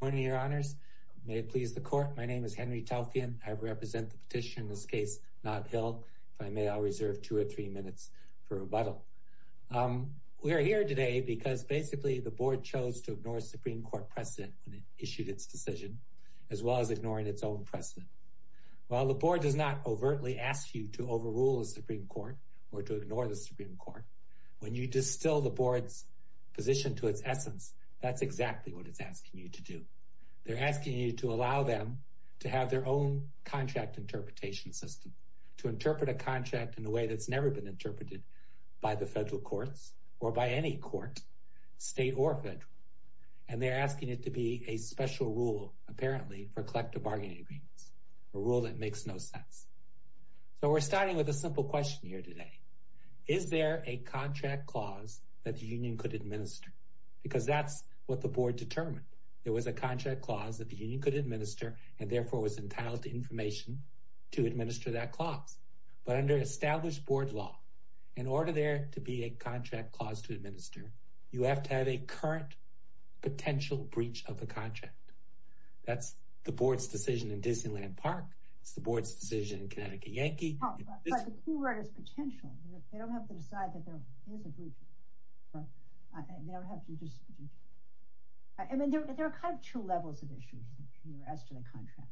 Good morning, Your Honors. May it please the Court, my name is Henry Telfian. I represent the petitioner in this case, Nob Hill. If I may, I'll reserve two or three minutes for rebuttal. We are here today because basically the Board chose to ignore Supreme Court precedent when it issued its decision, as well as ignoring its own precedent. While the Board does not overtly ask you to overrule the Supreme Court or to ignore the Supreme Court, when you distill the Board's position to its essence, that's exactly what it's asking you to do. They're asking you to allow them to have their own contract interpretation system, to interpret a contract in a way that's never been interpreted by the federal courts, or by any court, state or federal. And they're asking it to be a special rule, apparently, for collective bargaining agreements, a rule that makes no sense. So we're starting with a simple question here today. Is there a contract clause that the Union could administer? Because that's what the Board determined. There was a contract clause that the Union could administer, and therefore was entitled to information to administer that clause. But under established Board law, in order there to be a contract clause to administer, you have to have a current potential breach of the contract. That's the Board's decision in Disneyland Park. It's the Board's decision in Connecticut Yankee. But the court has potential. They don't have to decide that there is a breach. I mean, there are kind of two levels of issues as to the contract.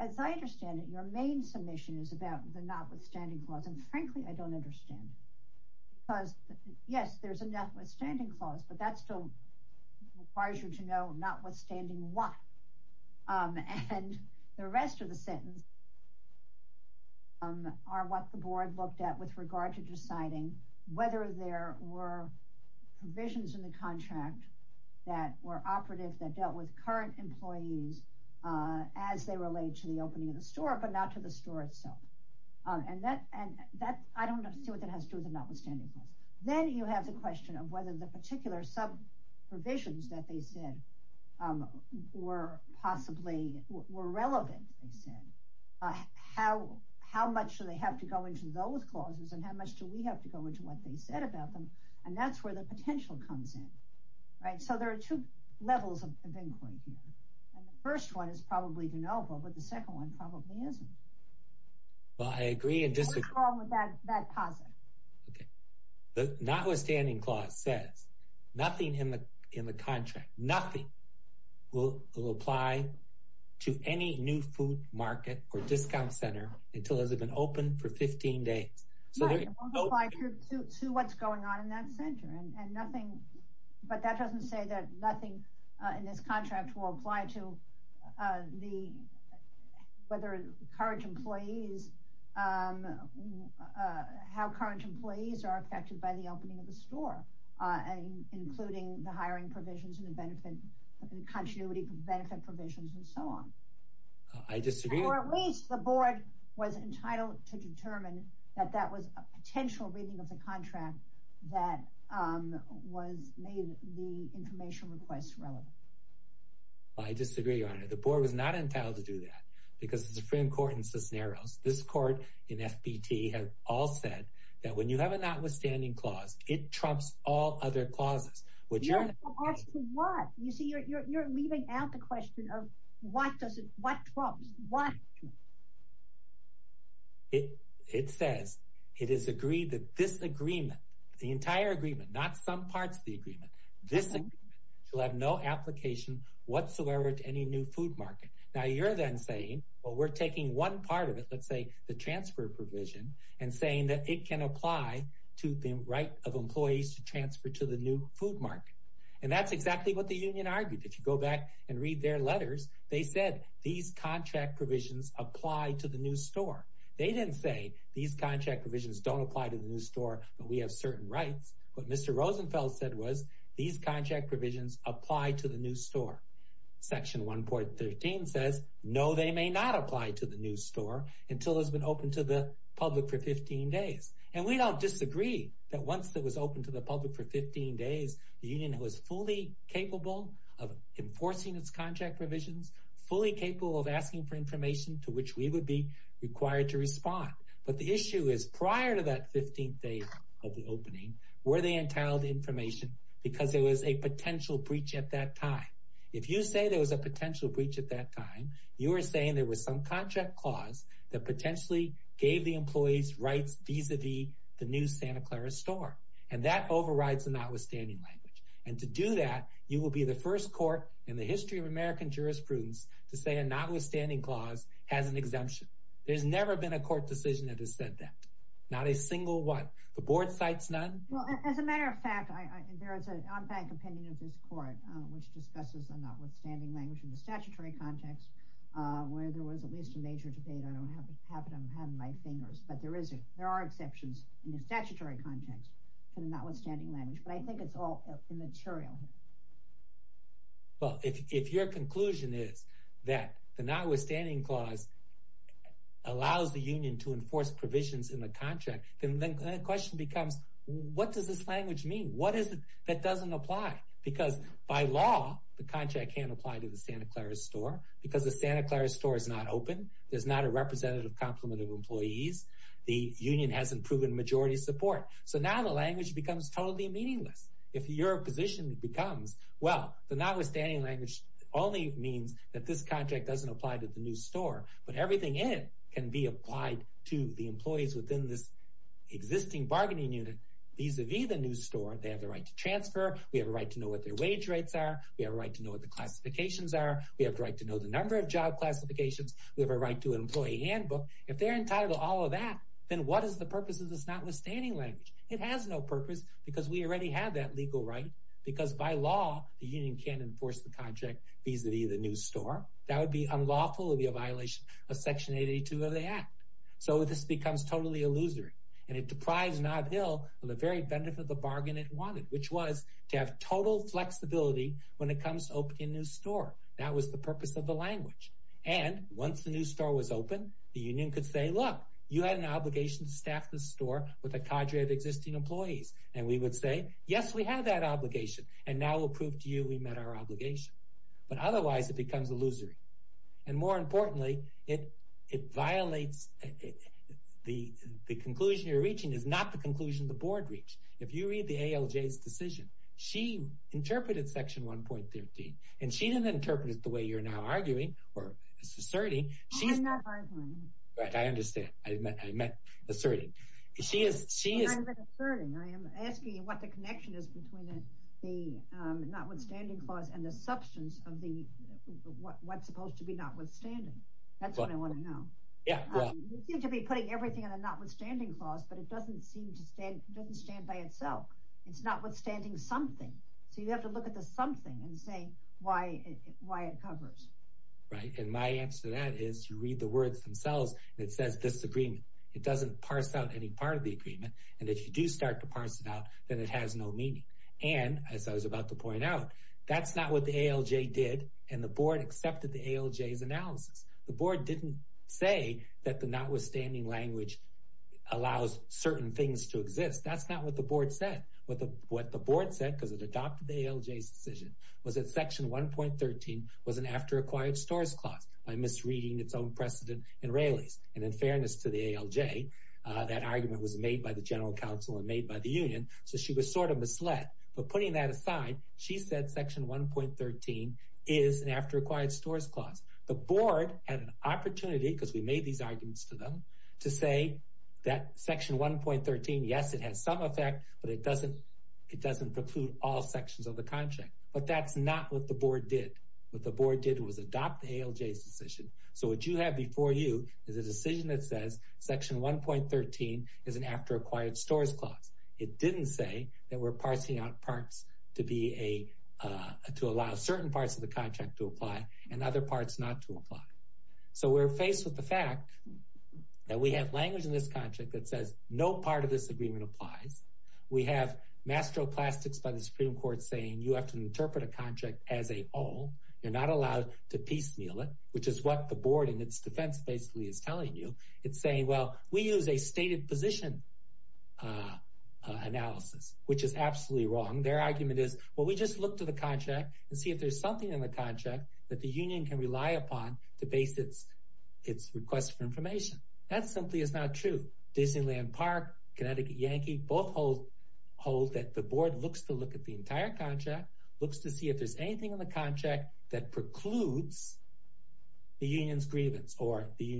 As I understand it, your main submission is about the notwithstanding clause. And frankly, I don't understand. Because yes, there's a notwithstanding clause, but that still requires you to know notwithstanding what. And the rest of the sentence is what the Board looked at with regard to deciding whether there were provisions in the contract that were operative, that dealt with current employees as they relate to the opening of the store, but not to the store itself. And I don't see what that has to do with the notwithstanding clause. Then you have the question of whether the particular sub-provisions that they said, how much do they have to go into those clauses and how much do we have to go into what they said about them? And that's where the potential comes in. Right? So there are two levels of inquiry here. And the first one is probably deniable, but the second one probably isn't. Well, I agree and disagree. What's wrong with that positive? Okay. The notwithstanding clause says nothing in the contract, nothing will apply to any new food market or discount center until it has been open for 15 days. Yeah, it won't apply to what's going on in that center. But that doesn't say that nothing in this contract will apply to whether current employees, how current employees are affected by the opening of the store, including the hiring provisions and the benefit, the continuity benefit provisions and so on. I disagree. At least the board was entitled to determine that that was a potential reading of the contract that was made the information requests relevant. I disagree on it. The board was not entitled to do that because the Supreme Court in Cisneros, this court in FBT have all said that when you have a notwithstanding clause, it trumps all other clauses, which are what you see, you're leaving out the question of what does it what trumps what? It says it is agreed that this agreement, the entire agreement, not some parts of the agreement, this will have no application whatsoever to any new food market. Now you're then saying, well, we're taking one part of it, let's say the transfer provision and saying that it can apply to the right of employees to transfer to the new food market. And that's exactly what the union argued. If you go back and read their letters, they said these contract provisions apply to the new store. They didn't say these contract provisions don't apply to the new store, but we have certain rights. What Mr. Rosenfeld said was these contract provisions apply to the new store. Section 1.13 says, no, they may not apply to the new store until it's been open to the public for 15 days. And we don't disagree that once it was open to the public for 15 days, the union was fully capable of enforcing its contract provisions, fully capable of asking for information to which we would be required to respond. But the issue is prior to that 15th day of the opening, were they entitled to information because there was a potential breach at that time? If you say there was a potential breach at that time, you are saying there was some contract clause that potentially gave the employees rights vis-a-vis the new Santa Clara store. And that overrides the notwithstanding language. And to do that, you will be the first court in the history of American jurisprudence to say a notwithstanding clause has an exemption. There's never been a the board cites none? Well, as a matter of fact, there is an on-bank opinion of this court, which discusses a notwithstanding language in the statutory context, where there was at least a major debate. I don't have it on my fingers, but there are exceptions in the statutory context for the notwithstanding language. But I think it's all immaterial. Well, if your conclusion is that the notwithstanding clause allows the union to apply, the question becomes, what does this language mean? What is it that doesn't apply? Because by law, the contract can't apply to the Santa Clara store because the Santa Clara store is not open. There's not a representative complement of employees. The union hasn't proven majority support. So now the language becomes totally meaningless. If your position becomes, well, the notwithstanding language only means that this contract doesn't apply to the new bargaining unit vis-a-vis the new store, they have the right to transfer. We have a right to know what their wage rates are. We have a right to know what the classifications are. We have a right to know the number of job classifications. We have a right to an employee handbook. If they're entitled to all of that, then what is the purpose of this notwithstanding language? It has no purpose because we already have that legal right, because by law, the union can't enforce the contract vis-a-vis the new store. That would be unlawful. It would be a violation of Section 82 of the Act. So this becomes totally illusory, and it deprives Nob Hill of the very benefit of the bargain it wanted, which was to have total flexibility when it comes to opening a new store. That was the purpose of the language. And once the new store was open, the union could say, look, you had an obligation to staff the store with a cadre of existing employees. And we would say, yes, we have that obligation, and now we'll prove to you we met our obligation. But otherwise, it becomes illusory. And more importantly, it violates the conclusion you're reaching is not the conclusion the board reached. If you read the ALJ's decision, she interpreted Section 1.13, and she didn't interpret it the way you're now arguing or asserting. I'm not arguing. Right, I understand. I meant asserting. She is... I'm not asserting. I am asking you what the connection is between the notwithstanding clause and the substance of what's supposed to be notwithstanding. That's what I want to know. Yeah, well... You seem to be putting everything in a notwithstanding clause, but it doesn't stand by itself. It's notwithstanding something. So you have to look at the something and say why it covers. Right, and my answer to that is you read the words themselves, and it says disagreement. It doesn't parse out any part of the agreement. And if you do start to parse it out, then it has no meaning. And as I was about to point out, that's not what the ALJ did, and the board accepted the ALJ's analysis. The board didn't say that the notwithstanding language allows certain things to exist. That's not what the board said. What the board said, because it adopted the ALJ's decision, was that Section 1.13 was an after-acquired stores clause by misreading its own precedent and rallies. And in fairness to the ALJ, that argument was made by the general counsel and made by the union, so she was sort of misled. But putting that aside, she said Section 1.13 is an after-acquired stores clause. The board had an opportunity, because we made these arguments to them, to say that Section 1.13, yes, it has some effect, but it doesn't preclude all sections of the contract. But that's not what the board did. What the board did was adopt the ALJ's decision. So what you have before you is a decision that is an after-acquired stores clause. It didn't say that we're parsing out parts to allow certain parts of the contract to apply and other parts not to apply. So we're faced with the fact that we have language in this contract that says no part of this agreement applies. We have mastroplastics by the Supreme Court saying you have to interpret a contract as a whole. You're not allowed to piecemeal it, which is what the board in its defense basically is telling you. It's saying, well, we use a stated position analysis, which is absolutely wrong. Their argument is, well, we just look to the contract and see if there's something in the contract that the union can rely upon to base its request for information. That simply is not true. Disneyland Park, Connecticut Yankee both hold that the board looks to look at the entire contract, looks to see if there's anything in the contract that precludes the union's grievance or the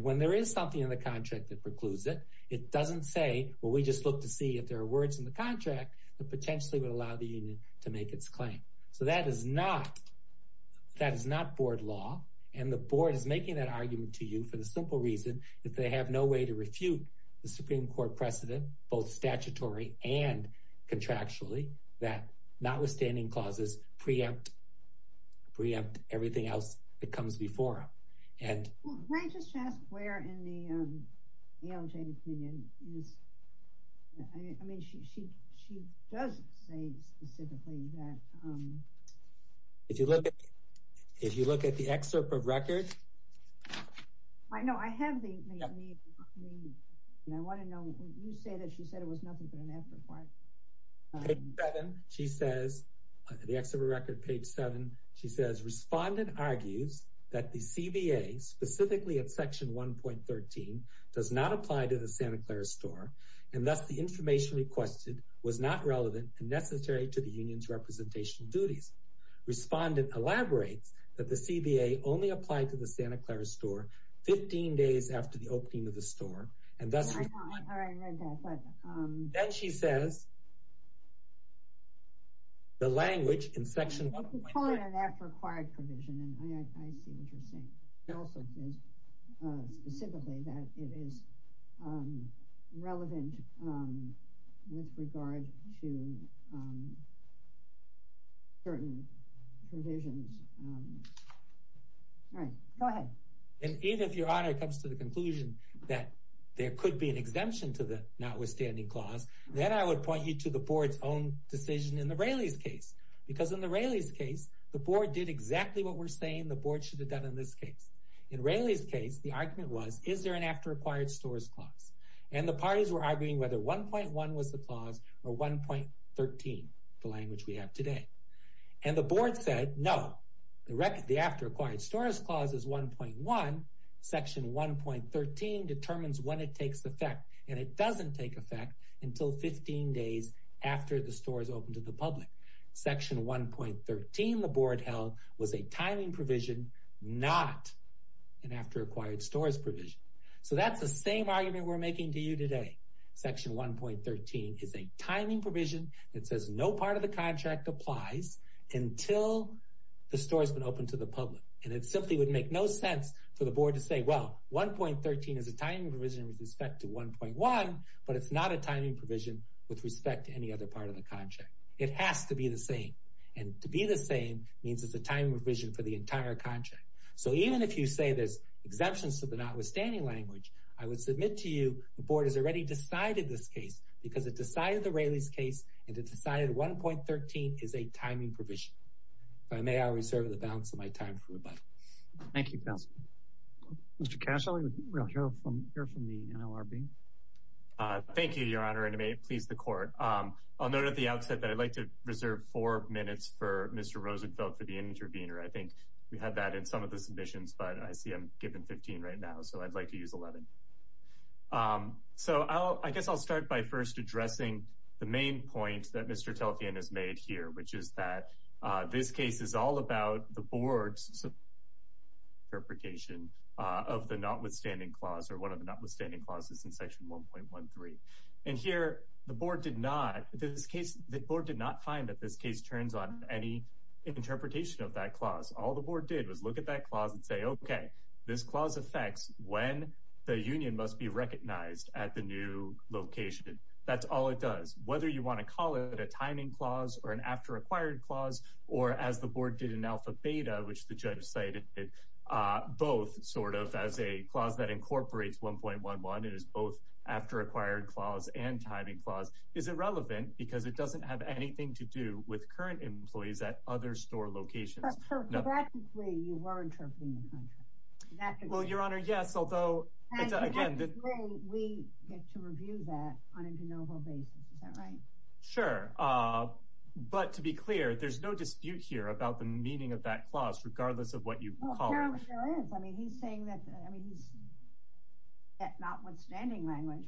when there is something in the contract that precludes it, it doesn't say, well, we just look to see if there are words in the contract that potentially would allow the union to make its claim. So that is not, that is not board law. And the board is making that argument to you for the simple reason that they have no way to refute the Supreme Court precedent, both statutory and contractually that notwithstanding clauses preempt, preempt everything else that comes before them. Well, can I just ask where in the ALJ opinion is, I mean, she, she, she does say specifically that. If you look, if you look at the excerpt of record. I know I have the, I want to know, you say that she said it was nothing but an afterthought. Page seven, she says, the excerpt of record page seven, she says respondent argues that the CBA specifically at section 1.13 does not apply to the Santa Clara store and thus the information requested was not relevant and necessary to the union's representational duties. Respondent elaborates that the CBA only applied to the Santa Clara store 15 days after the opening of the store and thus. I know, I read that. Then she says. The language in section 1.13. It's a component of that required provision and I see what you're saying. It also says specifically that it is relevant with regard to certain provisions. All right, go ahead. And even if your honor comes to the conclusion that there could be an exemption to the notwithstanding clause, then I would point you to the board's own decision in the Railey's case. Because in the Railey's case, the board did exactly what we're saying the board should have done in this case. In Railey's case, the argument was, is there an after acquired stores clause? And the parties were arguing whether 1.1 was the clause or 1.13, the language we have today. And the board said no. The record, the after acquired stores clause is 1.1. Section 1.13 determines when it takes effect and it doesn't take effect until 15 days after the store is open to the public. Section 1.13, the board held was a timing provision, not an after acquired stores provision. So that's the same argument we're making to you today. Section 1.13 is a timing provision that says no part of the contract applies until the store has been open to the public. And it simply would make no sense for the board to say, well, 1.13 is a timing provision with respect to 1.1, but it's not a timing provision with respect to any other part of the contract. It has to be the same. And to be the same means it's a timing provision for the entire contract. So even if you say there's exemptions to the notwithstanding language, I would submit to you the board has already decided this case because it decided the Railey's case and it decided 1.13 is a timing provision. If I may, I'll reserve the balance of my time for rebuttal. Thank you, counsel. Mr. Cash, I'll let you hear from the NLRB. Thank you, your honor, and may it please the court. I'll note at the outset that I'd like to reserve four minutes for Mr. Rosenfeld for the intervener. I think we had that in some of the submissions, but I see I'm given 15 right now, so I'd like to use 11. So I guess I'll start by first addressing the main point that Mr. Telfian has made here, which is that this case is all about the board's interpretation of the notwithstanding clause or one of the notwithstanding clauses in section 1.13. And here the board did not find that this case turns on any interpretation of that clause. All the board did was look at that clause and say, okay, this clause affects when the union must be recognized at the new location. That's all it does. Whether you want to call it a timing clause or an after-acquired clause or as the board did in alpha beta, which the judge cited both sort of as a clause that incorporates 1.11 and is both after-acquired clause and timing clause is irrelevant because it doesn't have anything to do with current employees at other store locations. Practically, you were interpreting the contract. Well, Your Honor, yes, although again, we get to review that on a de novo basis. Is that right? Sure. But to be clear, there's no dispute here about the meaning of that clause, regardless of what you call it. There sure is. I mean, he's saying that, I mean, he's notwithstanding language,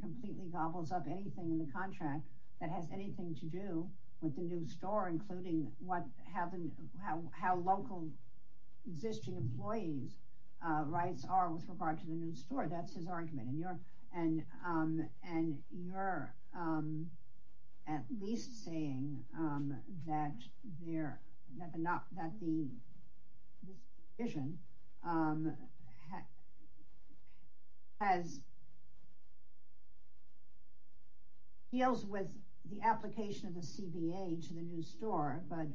completely gobbles up anything in the contract that has anything to do with the new store, including what happened, how local existing employees' rights are with regard to the new store. That's his argument. And you're at least saying that this provision deals with the application of the CBA to the new store, but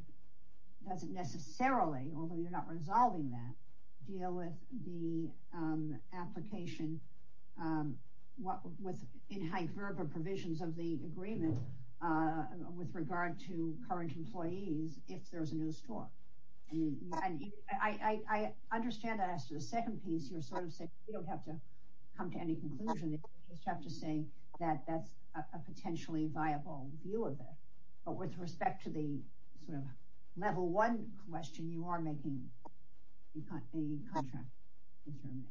doesn't necessarily, although you're not resolving that, deal with the application of what was in hyperbole provisions of the agreement with regard to current employees if there's a new store. I understand that as to the second piece, you're sort of saying you don't have to come to any conclusion. You just have to say that that's a potentially viable view of it. But with respect to the sort of level one question, you are making a contract. Thank you.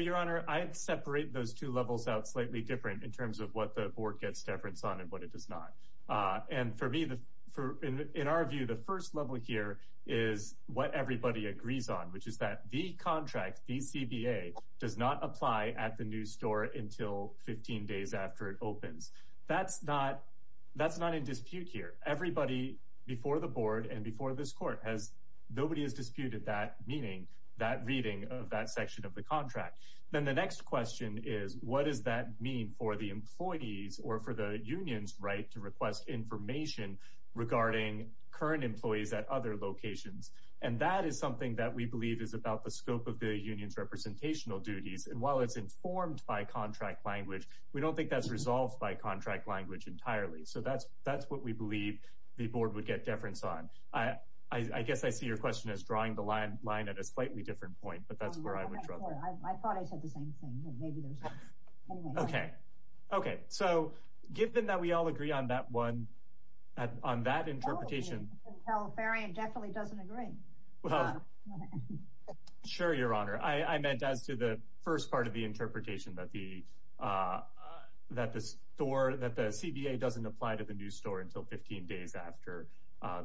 Your Honor, I'd separate those two levels out slightly different in terms of what the board gets deference on and what it does not. And for me, in our view, the first level here is what everybody agrees on, which is that the contract, the CBA, does not apply at the new store until 15 days after it opens. That's not in dispute here. Everybody before the board and this court, nobody has disputed that meaning, that reading of that section of the contract. Then the next question is, what does that mean for the employees or for the union's right to request information regarding current employees at other locations? And that is something that we believe is about the scope of the union's representational duties. And while it's informed by contract language, we don't think that's resolved by contract language entirely. So that's what we believe the board would get deference on. I guess I see your question as drawing the line at a slightly different point, but that's where I would draw the line. I thought I said the same thing. Okay. Okay. So given that we all agree on that one, on that interpretation. The Califarian definitely doesn't agree. Sure, Your Honor. I meant as to the first part of the interpretation that the CBA doesn't apply to the new store until 15 days after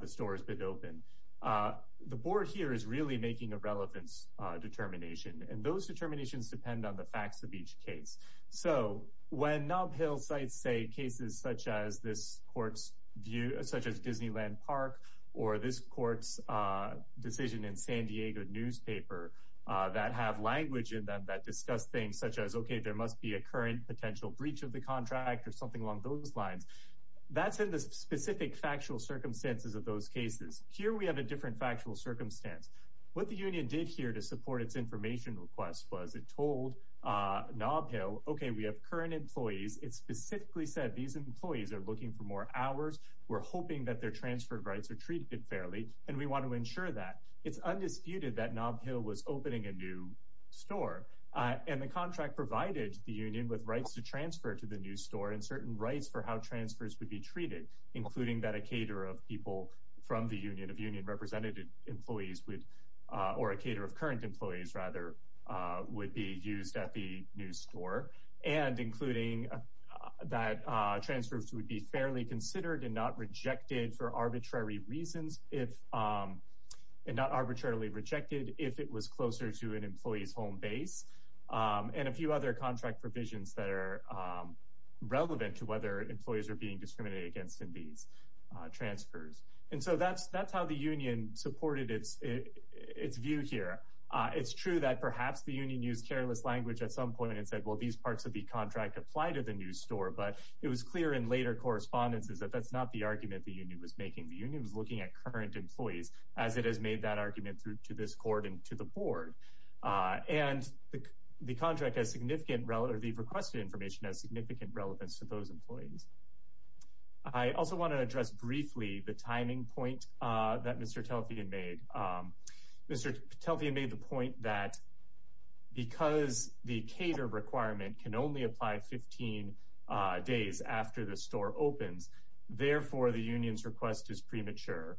the store has been opened. The board here is really making a relevance determination. And those determinations depend on the facts of each case. So when Nob Hill sites say cases such as this court's view, such as Disneyland Park, or this court's decision in San Diego newspaper that have language in them that discuss things such as, okay, there must be a current potential breach of the contract or something along those lines. That's in the specific factual circumstances of those cases. Here we have a different factual circumstance. What the union did here to support its information request was it told Nob Hill, okay, we have current employees. It specifically said these employees are looking for more hours. We're hoping that their transfer of rights are treated fairly, and we want to ensure that. It's undisputed that Nob Hill was opening a new store. And the contract provided the union with rights to transfer to the new store and certain rights for how transfers would be treated, including that a caterer of people from the union of union representative employees would, or a caterer of current employees rather, would be used at the new store, and including that transfers would be fairly considered and not rejected for arbitrary reasons if arbitrarily rejected if it was closer to an employee's home base, and a few other contract provisions that are relevant to whether employees are being discriminated against in these transfers. And so that's how the union supported its view here. It's true that perhaps the union used careless language at some point and said, well, these parts of the contract apply to the new store, but it was clear in later correspondences that that's not the argument the union was making. The union was looking at current employees as it has made that argument through to this court and to the board. And the contract has significant relevance, or the requested information has significant relevance to those employees. I also want to address briefly the timing point that Mr. Telfian made. Mr. Telfian made the point that because the cater requirement can only apply 15 days after the store opens, therefore the union's request is premature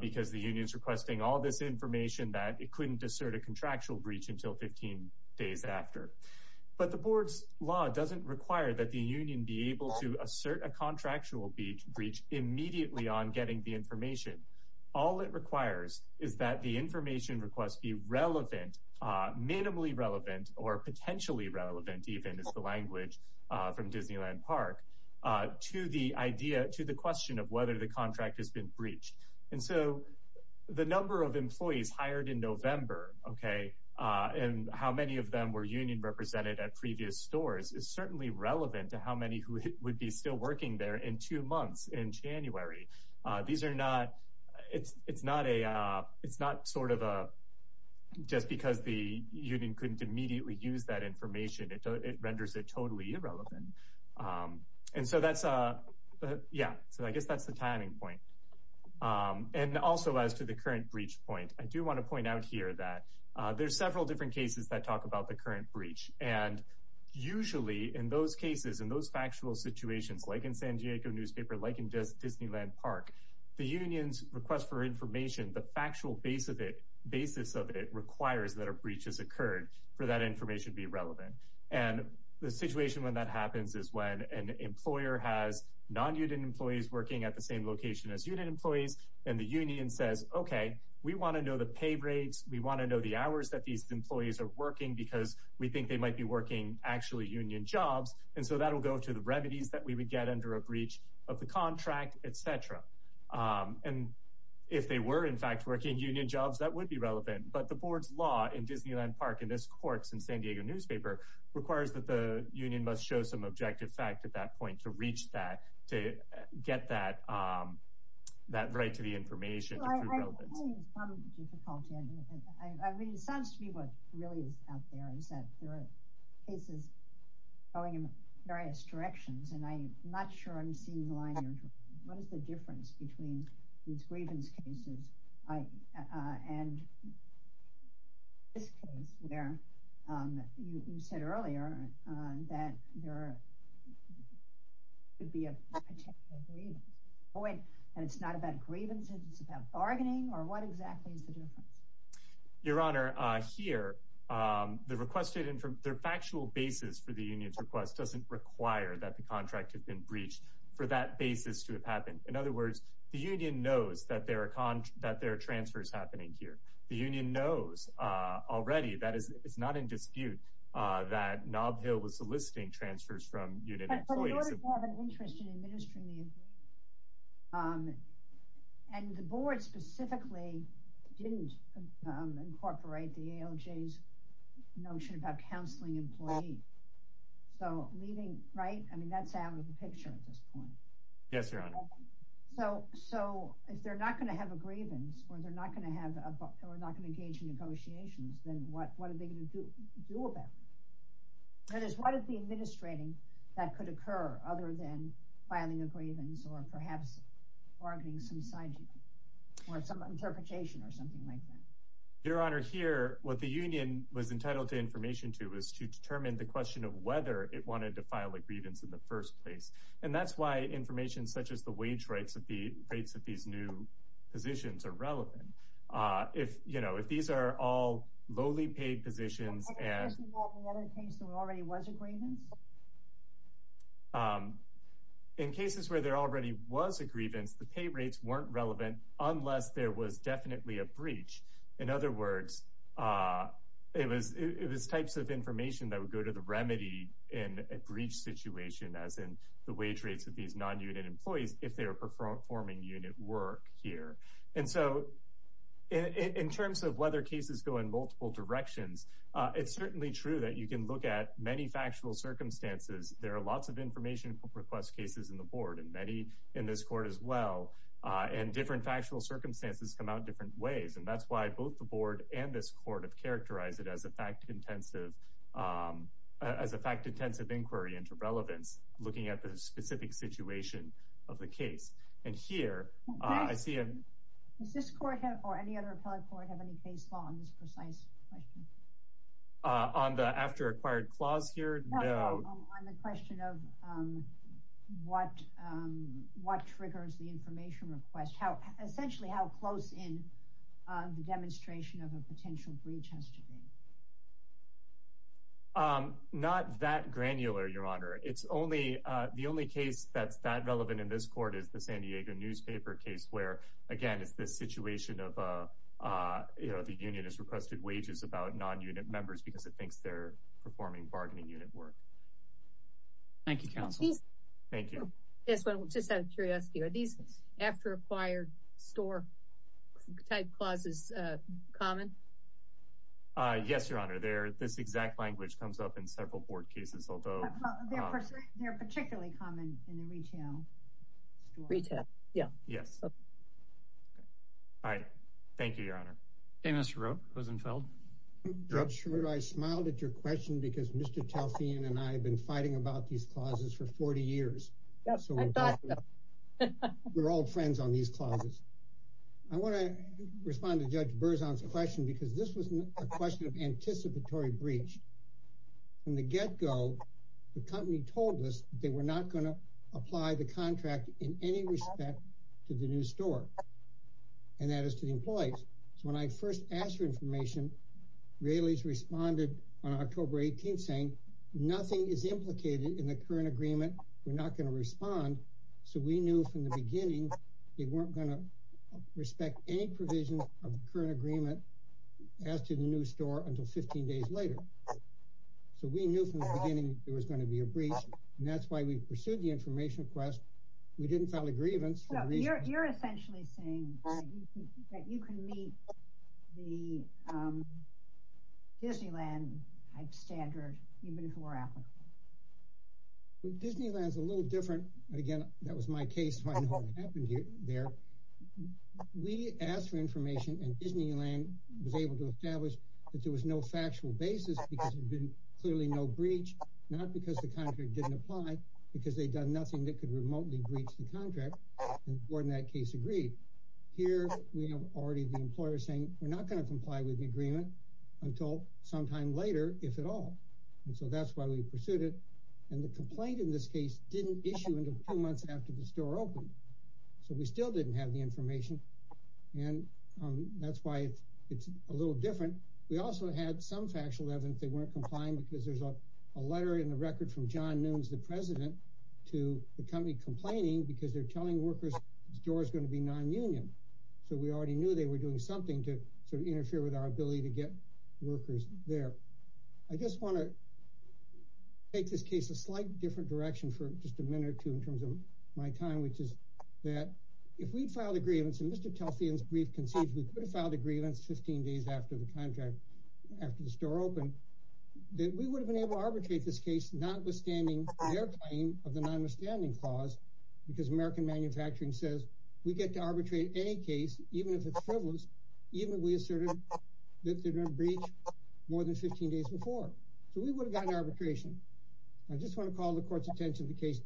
because the union's requesting all this information that it couldn't assert a contractual breach until 15 days after. But the board's law doesn't require that the union be able to assert a contractual breach immediately on getting the information. All it requires is that the information request be relevant, minimally relevant, or potentially relevant even is the language from Disneyland Park, to the idea, to the question of whether the contract has been breached. And so the number of employees hired in November, okay, and how many of them were union represented at previous stores is certainly relevant to how many who would be still working there in two months in January. These are not, it's not a, it's not sort of a, just because the union couldn't immediately use that information, it renders it totally irrelevant. And so that's, yeah, so I guess that's the timing point. And also as to the current breach point, I do want to point out here that there's several different cases that talk about the current breach. And usually in those cases, in those factual situations, like in San Diego newspaper, like in Disneyland Park, the union's request for information, the factual base of it, basis of it requires that a breach has occurred for that information to be relevant. And the situation when that happens is when an employer has non-union employees working at the same location as union employees, and the union says, okay, we want to know the pay rates. We want to know the hours that these employees are working because we think they might be working actually union jobs. And so that'll go to the remedies that we would get under a breach of the contract, et cetera. And if they were in fact working union jobs, that would be relevant. But the board's law in Disneyland Park, in this court, in San Diego newspaper requires that the union must show some objective fact at that point to reach that, to get that, that right to the information. I mean, it sounds to me what really is out there is that there are cases going in various directions, and I'm not sure I'm seeing the line you're drawing. What is the difference between these grievance cases and this case where you said earlier that there could be a potential grievance. And it's not about grievances, it's about bargaining, or what exactly is the difference? Your Honor, here, the requested, their factual basis for the union's request doesn't require that the contract had been breached for that basis to have happened. In other words, the union knows that there are transfers happening here. The union knows already, that is, it's not in dispute that Nob Hill was soliciting transfers from union employees. You have an interest in administering the agreement, and the board specifically didn't incorporate the ALJ's notion about counseling employees. So leaving, right, I mean, that's out of the picture at this point. Yes, Your Honor. So if they're not going to have a grievance, or they're not going to have, or not going to engage in negotiations, then what are they going to do about it? That is, what is the administrating that could occur other than filing a grievance, or perhaps bargaining some side, or some interpretation, or something like that? Your Honor, here, what the union was entitled to information to is to determine the question of whether it wanted to file a grievance in the first place. And that's why information such as the wage rates of these new positions are relevant. If, you know, if these are all paid positions, and in cases where there already was a grievance, the pay rates weren't relevant, unless there was definitely a breach. In other words, it was, it was types of information that would go to the remedy in a breach situation, as in the wage rates of these non-unit employees, if they are performing unit work here. And so, in terms of whether cases go in multiple directions, it's certainly true that you can look at many factual circumstances. There are lots of information request cases in the board, and many in this court as well, and different factual circumstances come out different ways. And that's why both the board and this court have characterized it as a fact intensive, as a fact intensive inquiry into relevance, looking at the specific situation of the case. And here, I see... Does this court, or any other appellate court, have any case law on this precise question? On the after acquired clause here? No, on the question of what triggers the information request. How, essentially, how close in the demonstration of a potential breach has to be. Not that granular, Your Honor. It's only, the only case that's that relevant in this court is the San Diego newspaper case, where, again, it's this situation of, you know, the union has requested wages about non-unit members because it thinks they're performing bargaining unit work. Thank you, counsel. Thank you. Yes, well, just out of curiosity, are these after acquired store type clauses common? Yes, Your Honor. They're, this exact language comes up in several board cases, although... They're particularly common in the retail store. Retail, yeah. Yes. All right. Thank you, Your Honor. Hey, Mr. Rupp, Rosenfeld. Judge Rupp, I smiled at your question because Mr. Telfian and I have been fighting about these clauses for 40 years. Yes, I thought so. We're old friends on these clauses. I want to respond to Judge Berzon's question because this was a question of anticipatory breach. From the get-go, the company told us they were not going to apply the contract in any respect to the new store, and that is to the employees. So, when I first asked for information, Raley's responded on October 18th saying, nothing is implicated in the current agreement. So, we knew from the beginning they weren't going to respect any provisions of the current agreement as to the new store until 15 days later. So, we knew from the beginning there was going to be a breach, and that's why we pursued the information request. We didn't file a grievance. You're essentially saying that you can meet the Disneyland type standard, even if it were applicable. Well, Disneyland is a little different. Again, that was my case. I know what happened there. We asked for information, and Disneyland was able to establish that there was no factual basis because there'd been clearly no breach, not because the contract didn't apply, because they'd done nothing that could remotely breach the contract, and the board in that case agreed. Here, we have already the employer saying, we're not going to comply with the agreement until sometime later, if at all, and so that's why we pursued it, and the complaint in this case didn't issue until two months after the store opened. So, we still didn't have the information, and that's why it's a little different. We also had some factual evidence they weren't complying because there's a letter in the record from John Nunes, the president, to the company complaining because they're telling workers the store is going to be non-union. So, we already knew they were doing something to sort of interfere with our ability to get workers there. I just want to take this case a slight different direction for just a minute or two in terms of my time, which is that if we'd filed a grievance, and Mr. Telfian's brief concedes we could have filed a grievance 15 days after the contract, after the store opened, that we would have been able to arbitrate this case notwithstanding their claim of the non-withstanding clause because American Manufacturing says we get to arbitrate any case, even if it's frivolous, even if we asserted that they're going to breach more than 15 days before. So, we would have gotten arbitration. I just want to call the court's attention to the case,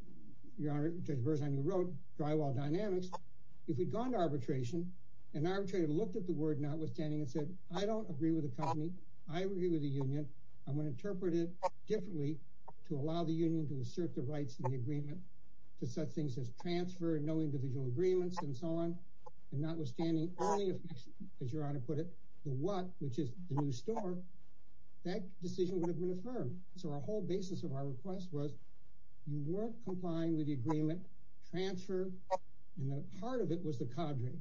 Your Honor, Judge Berzon, you wrote drywall dynamics. If we'd gone to arbitration, an arbitrator looked at the word notwithstanding and said, I don't agree with the company, I agree with the union, I'm going to interpret it differently to allow the union to assert the rights of the agreement to such things as transfer, no individual agreements, and so on, and notwithstanding only if, as Your Honor put it, the what, which is the new store, that decision would have been affirmed. So, our whole basis of our request was you weren't complying with the agreement, transfer, and the heart of it was the cadre.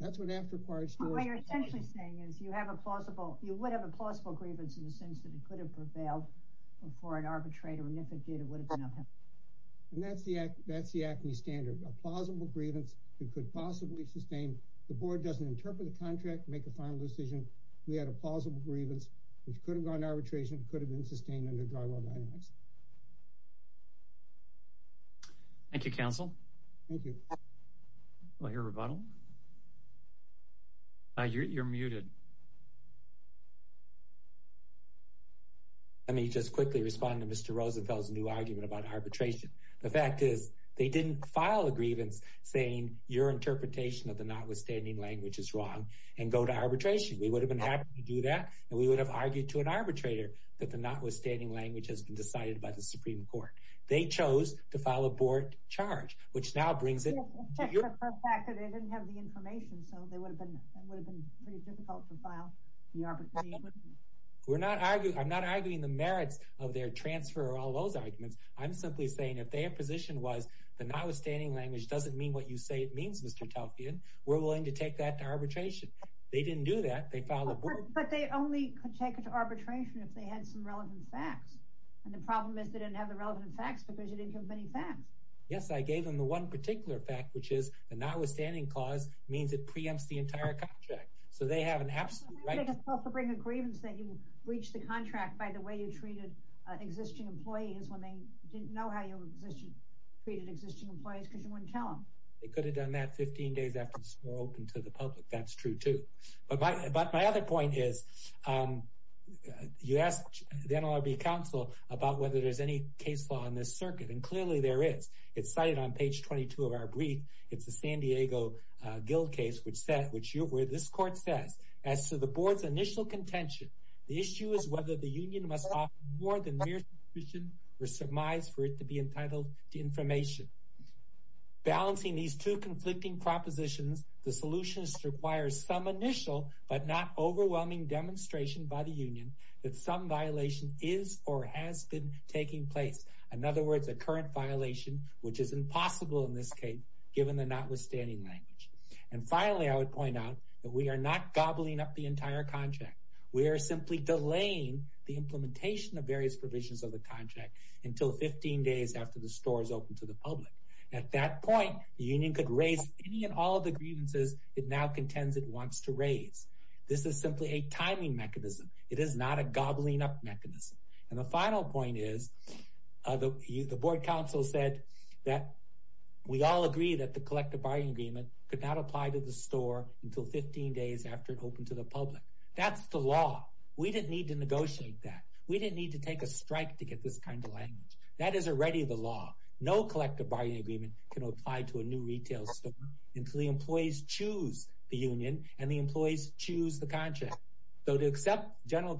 That's what after-required stores... What you're essentially saying is you have a plausible, you would have a plausible grievance in the sense that it could have prevailed before an arbitrator, and if it did, it would have been upheld. And that's the ACME standard, a plausible grievance that could possibly sustain. The board doesn't interpret the contract, make a final decision. We had a plausible grievance which could have gone arbitration, could have been sustained under drywall dynamics. Thank you, counsel. Thank you. I'll hear a rebuttal. You're muted. Let me just quickly respond to Mr. Rosenfeld's new argument about arbitration. The fact is they didn't file a grievance saying, your interpretation of the notwithstanding language is wrong, and go to arbitration. We would have been happy to do that, and we would have argued to an arbitrator that the notwithstanding language has been decided by the Supreme Court. They chose to file a board charge, which now brings it... Except for the fact that they didn't have the information, so it would have been pretty difficult to file the arbitration. I'm not arguing the merits of their transfer or all those arguments. I'm simply saying if their position was, the notwithstanding language doesn't mean what you say it means, Mr. Telfian, we're willing to take that to arbitration. They didn't do that. They filed a board... But they only could take it to arbitration if they had some relevant facts. And the problem is they didn't have the relevant facts because you didn't give them any facts. Yes, I gave them the one particular fact, which is the notwithstanding clause means it preempts the entire contract. So they have an absolute right to... They could also bring a grievance that you breached the contract by the way you treated existing employees when they didn't know how you treated existing employees because you wouldn't tell them. They could have done that 15 days after it was more open to the public. That's true, too. But my other point is you asked the NLRB counsel about whether there's any case law on this circuit, and clearly there is. It's cited on page 22 of our brief. It's the San Diego Guild case where this court says, as to the board's initial contention, the issue is whether the union must offer more than mere suspicion or surmise for it to be entitled to information. Balancing these two conflicting propositions, the solution requires some initial but not overwhelming demonstration by the union that some violation is or has been taking place. In other words, a current violation, which is impossible in this case, given the notwithstanding language. And finally, I would point out that we are not gobbling up the entire contract. We are simply delaying the implementation of various provisions of the contract until 15 days after the store is open to the public. At that point, the union could raise any and all of the grievances it now contends it wants to raise. This is simply a timing mechanism. It is not a gobbling up mechanism. And the final point is, the board counsel said that we all agree that the collective bargaining agreement could not apply to the store until 15 days after it opened to the public. That's the law. We didn't need to negotiate that. We didn't need to take a strike to get this kind of language. That is already the law. No collective bargaining agreement can apply to a new retail store until the employees choose the union and the employees choose the contract. So to accept the general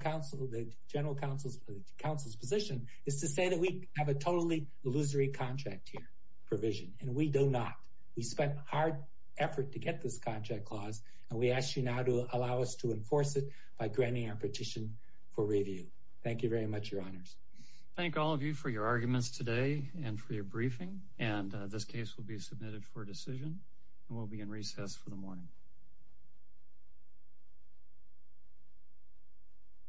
counsel's position is to say that we have a totally illusory contract here provision, and we do not. We spent hard effort to get this contract clause, and we ask you now to allow us to enforce it by granting our petition for review. Thank you very much, your honors. Thank all of you for your arguments today and for your briefing. And this case will be submitted for decision, and we'll be in recess for the morning.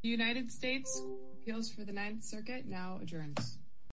The United States appeals for the Ninth Circuit now adjourned.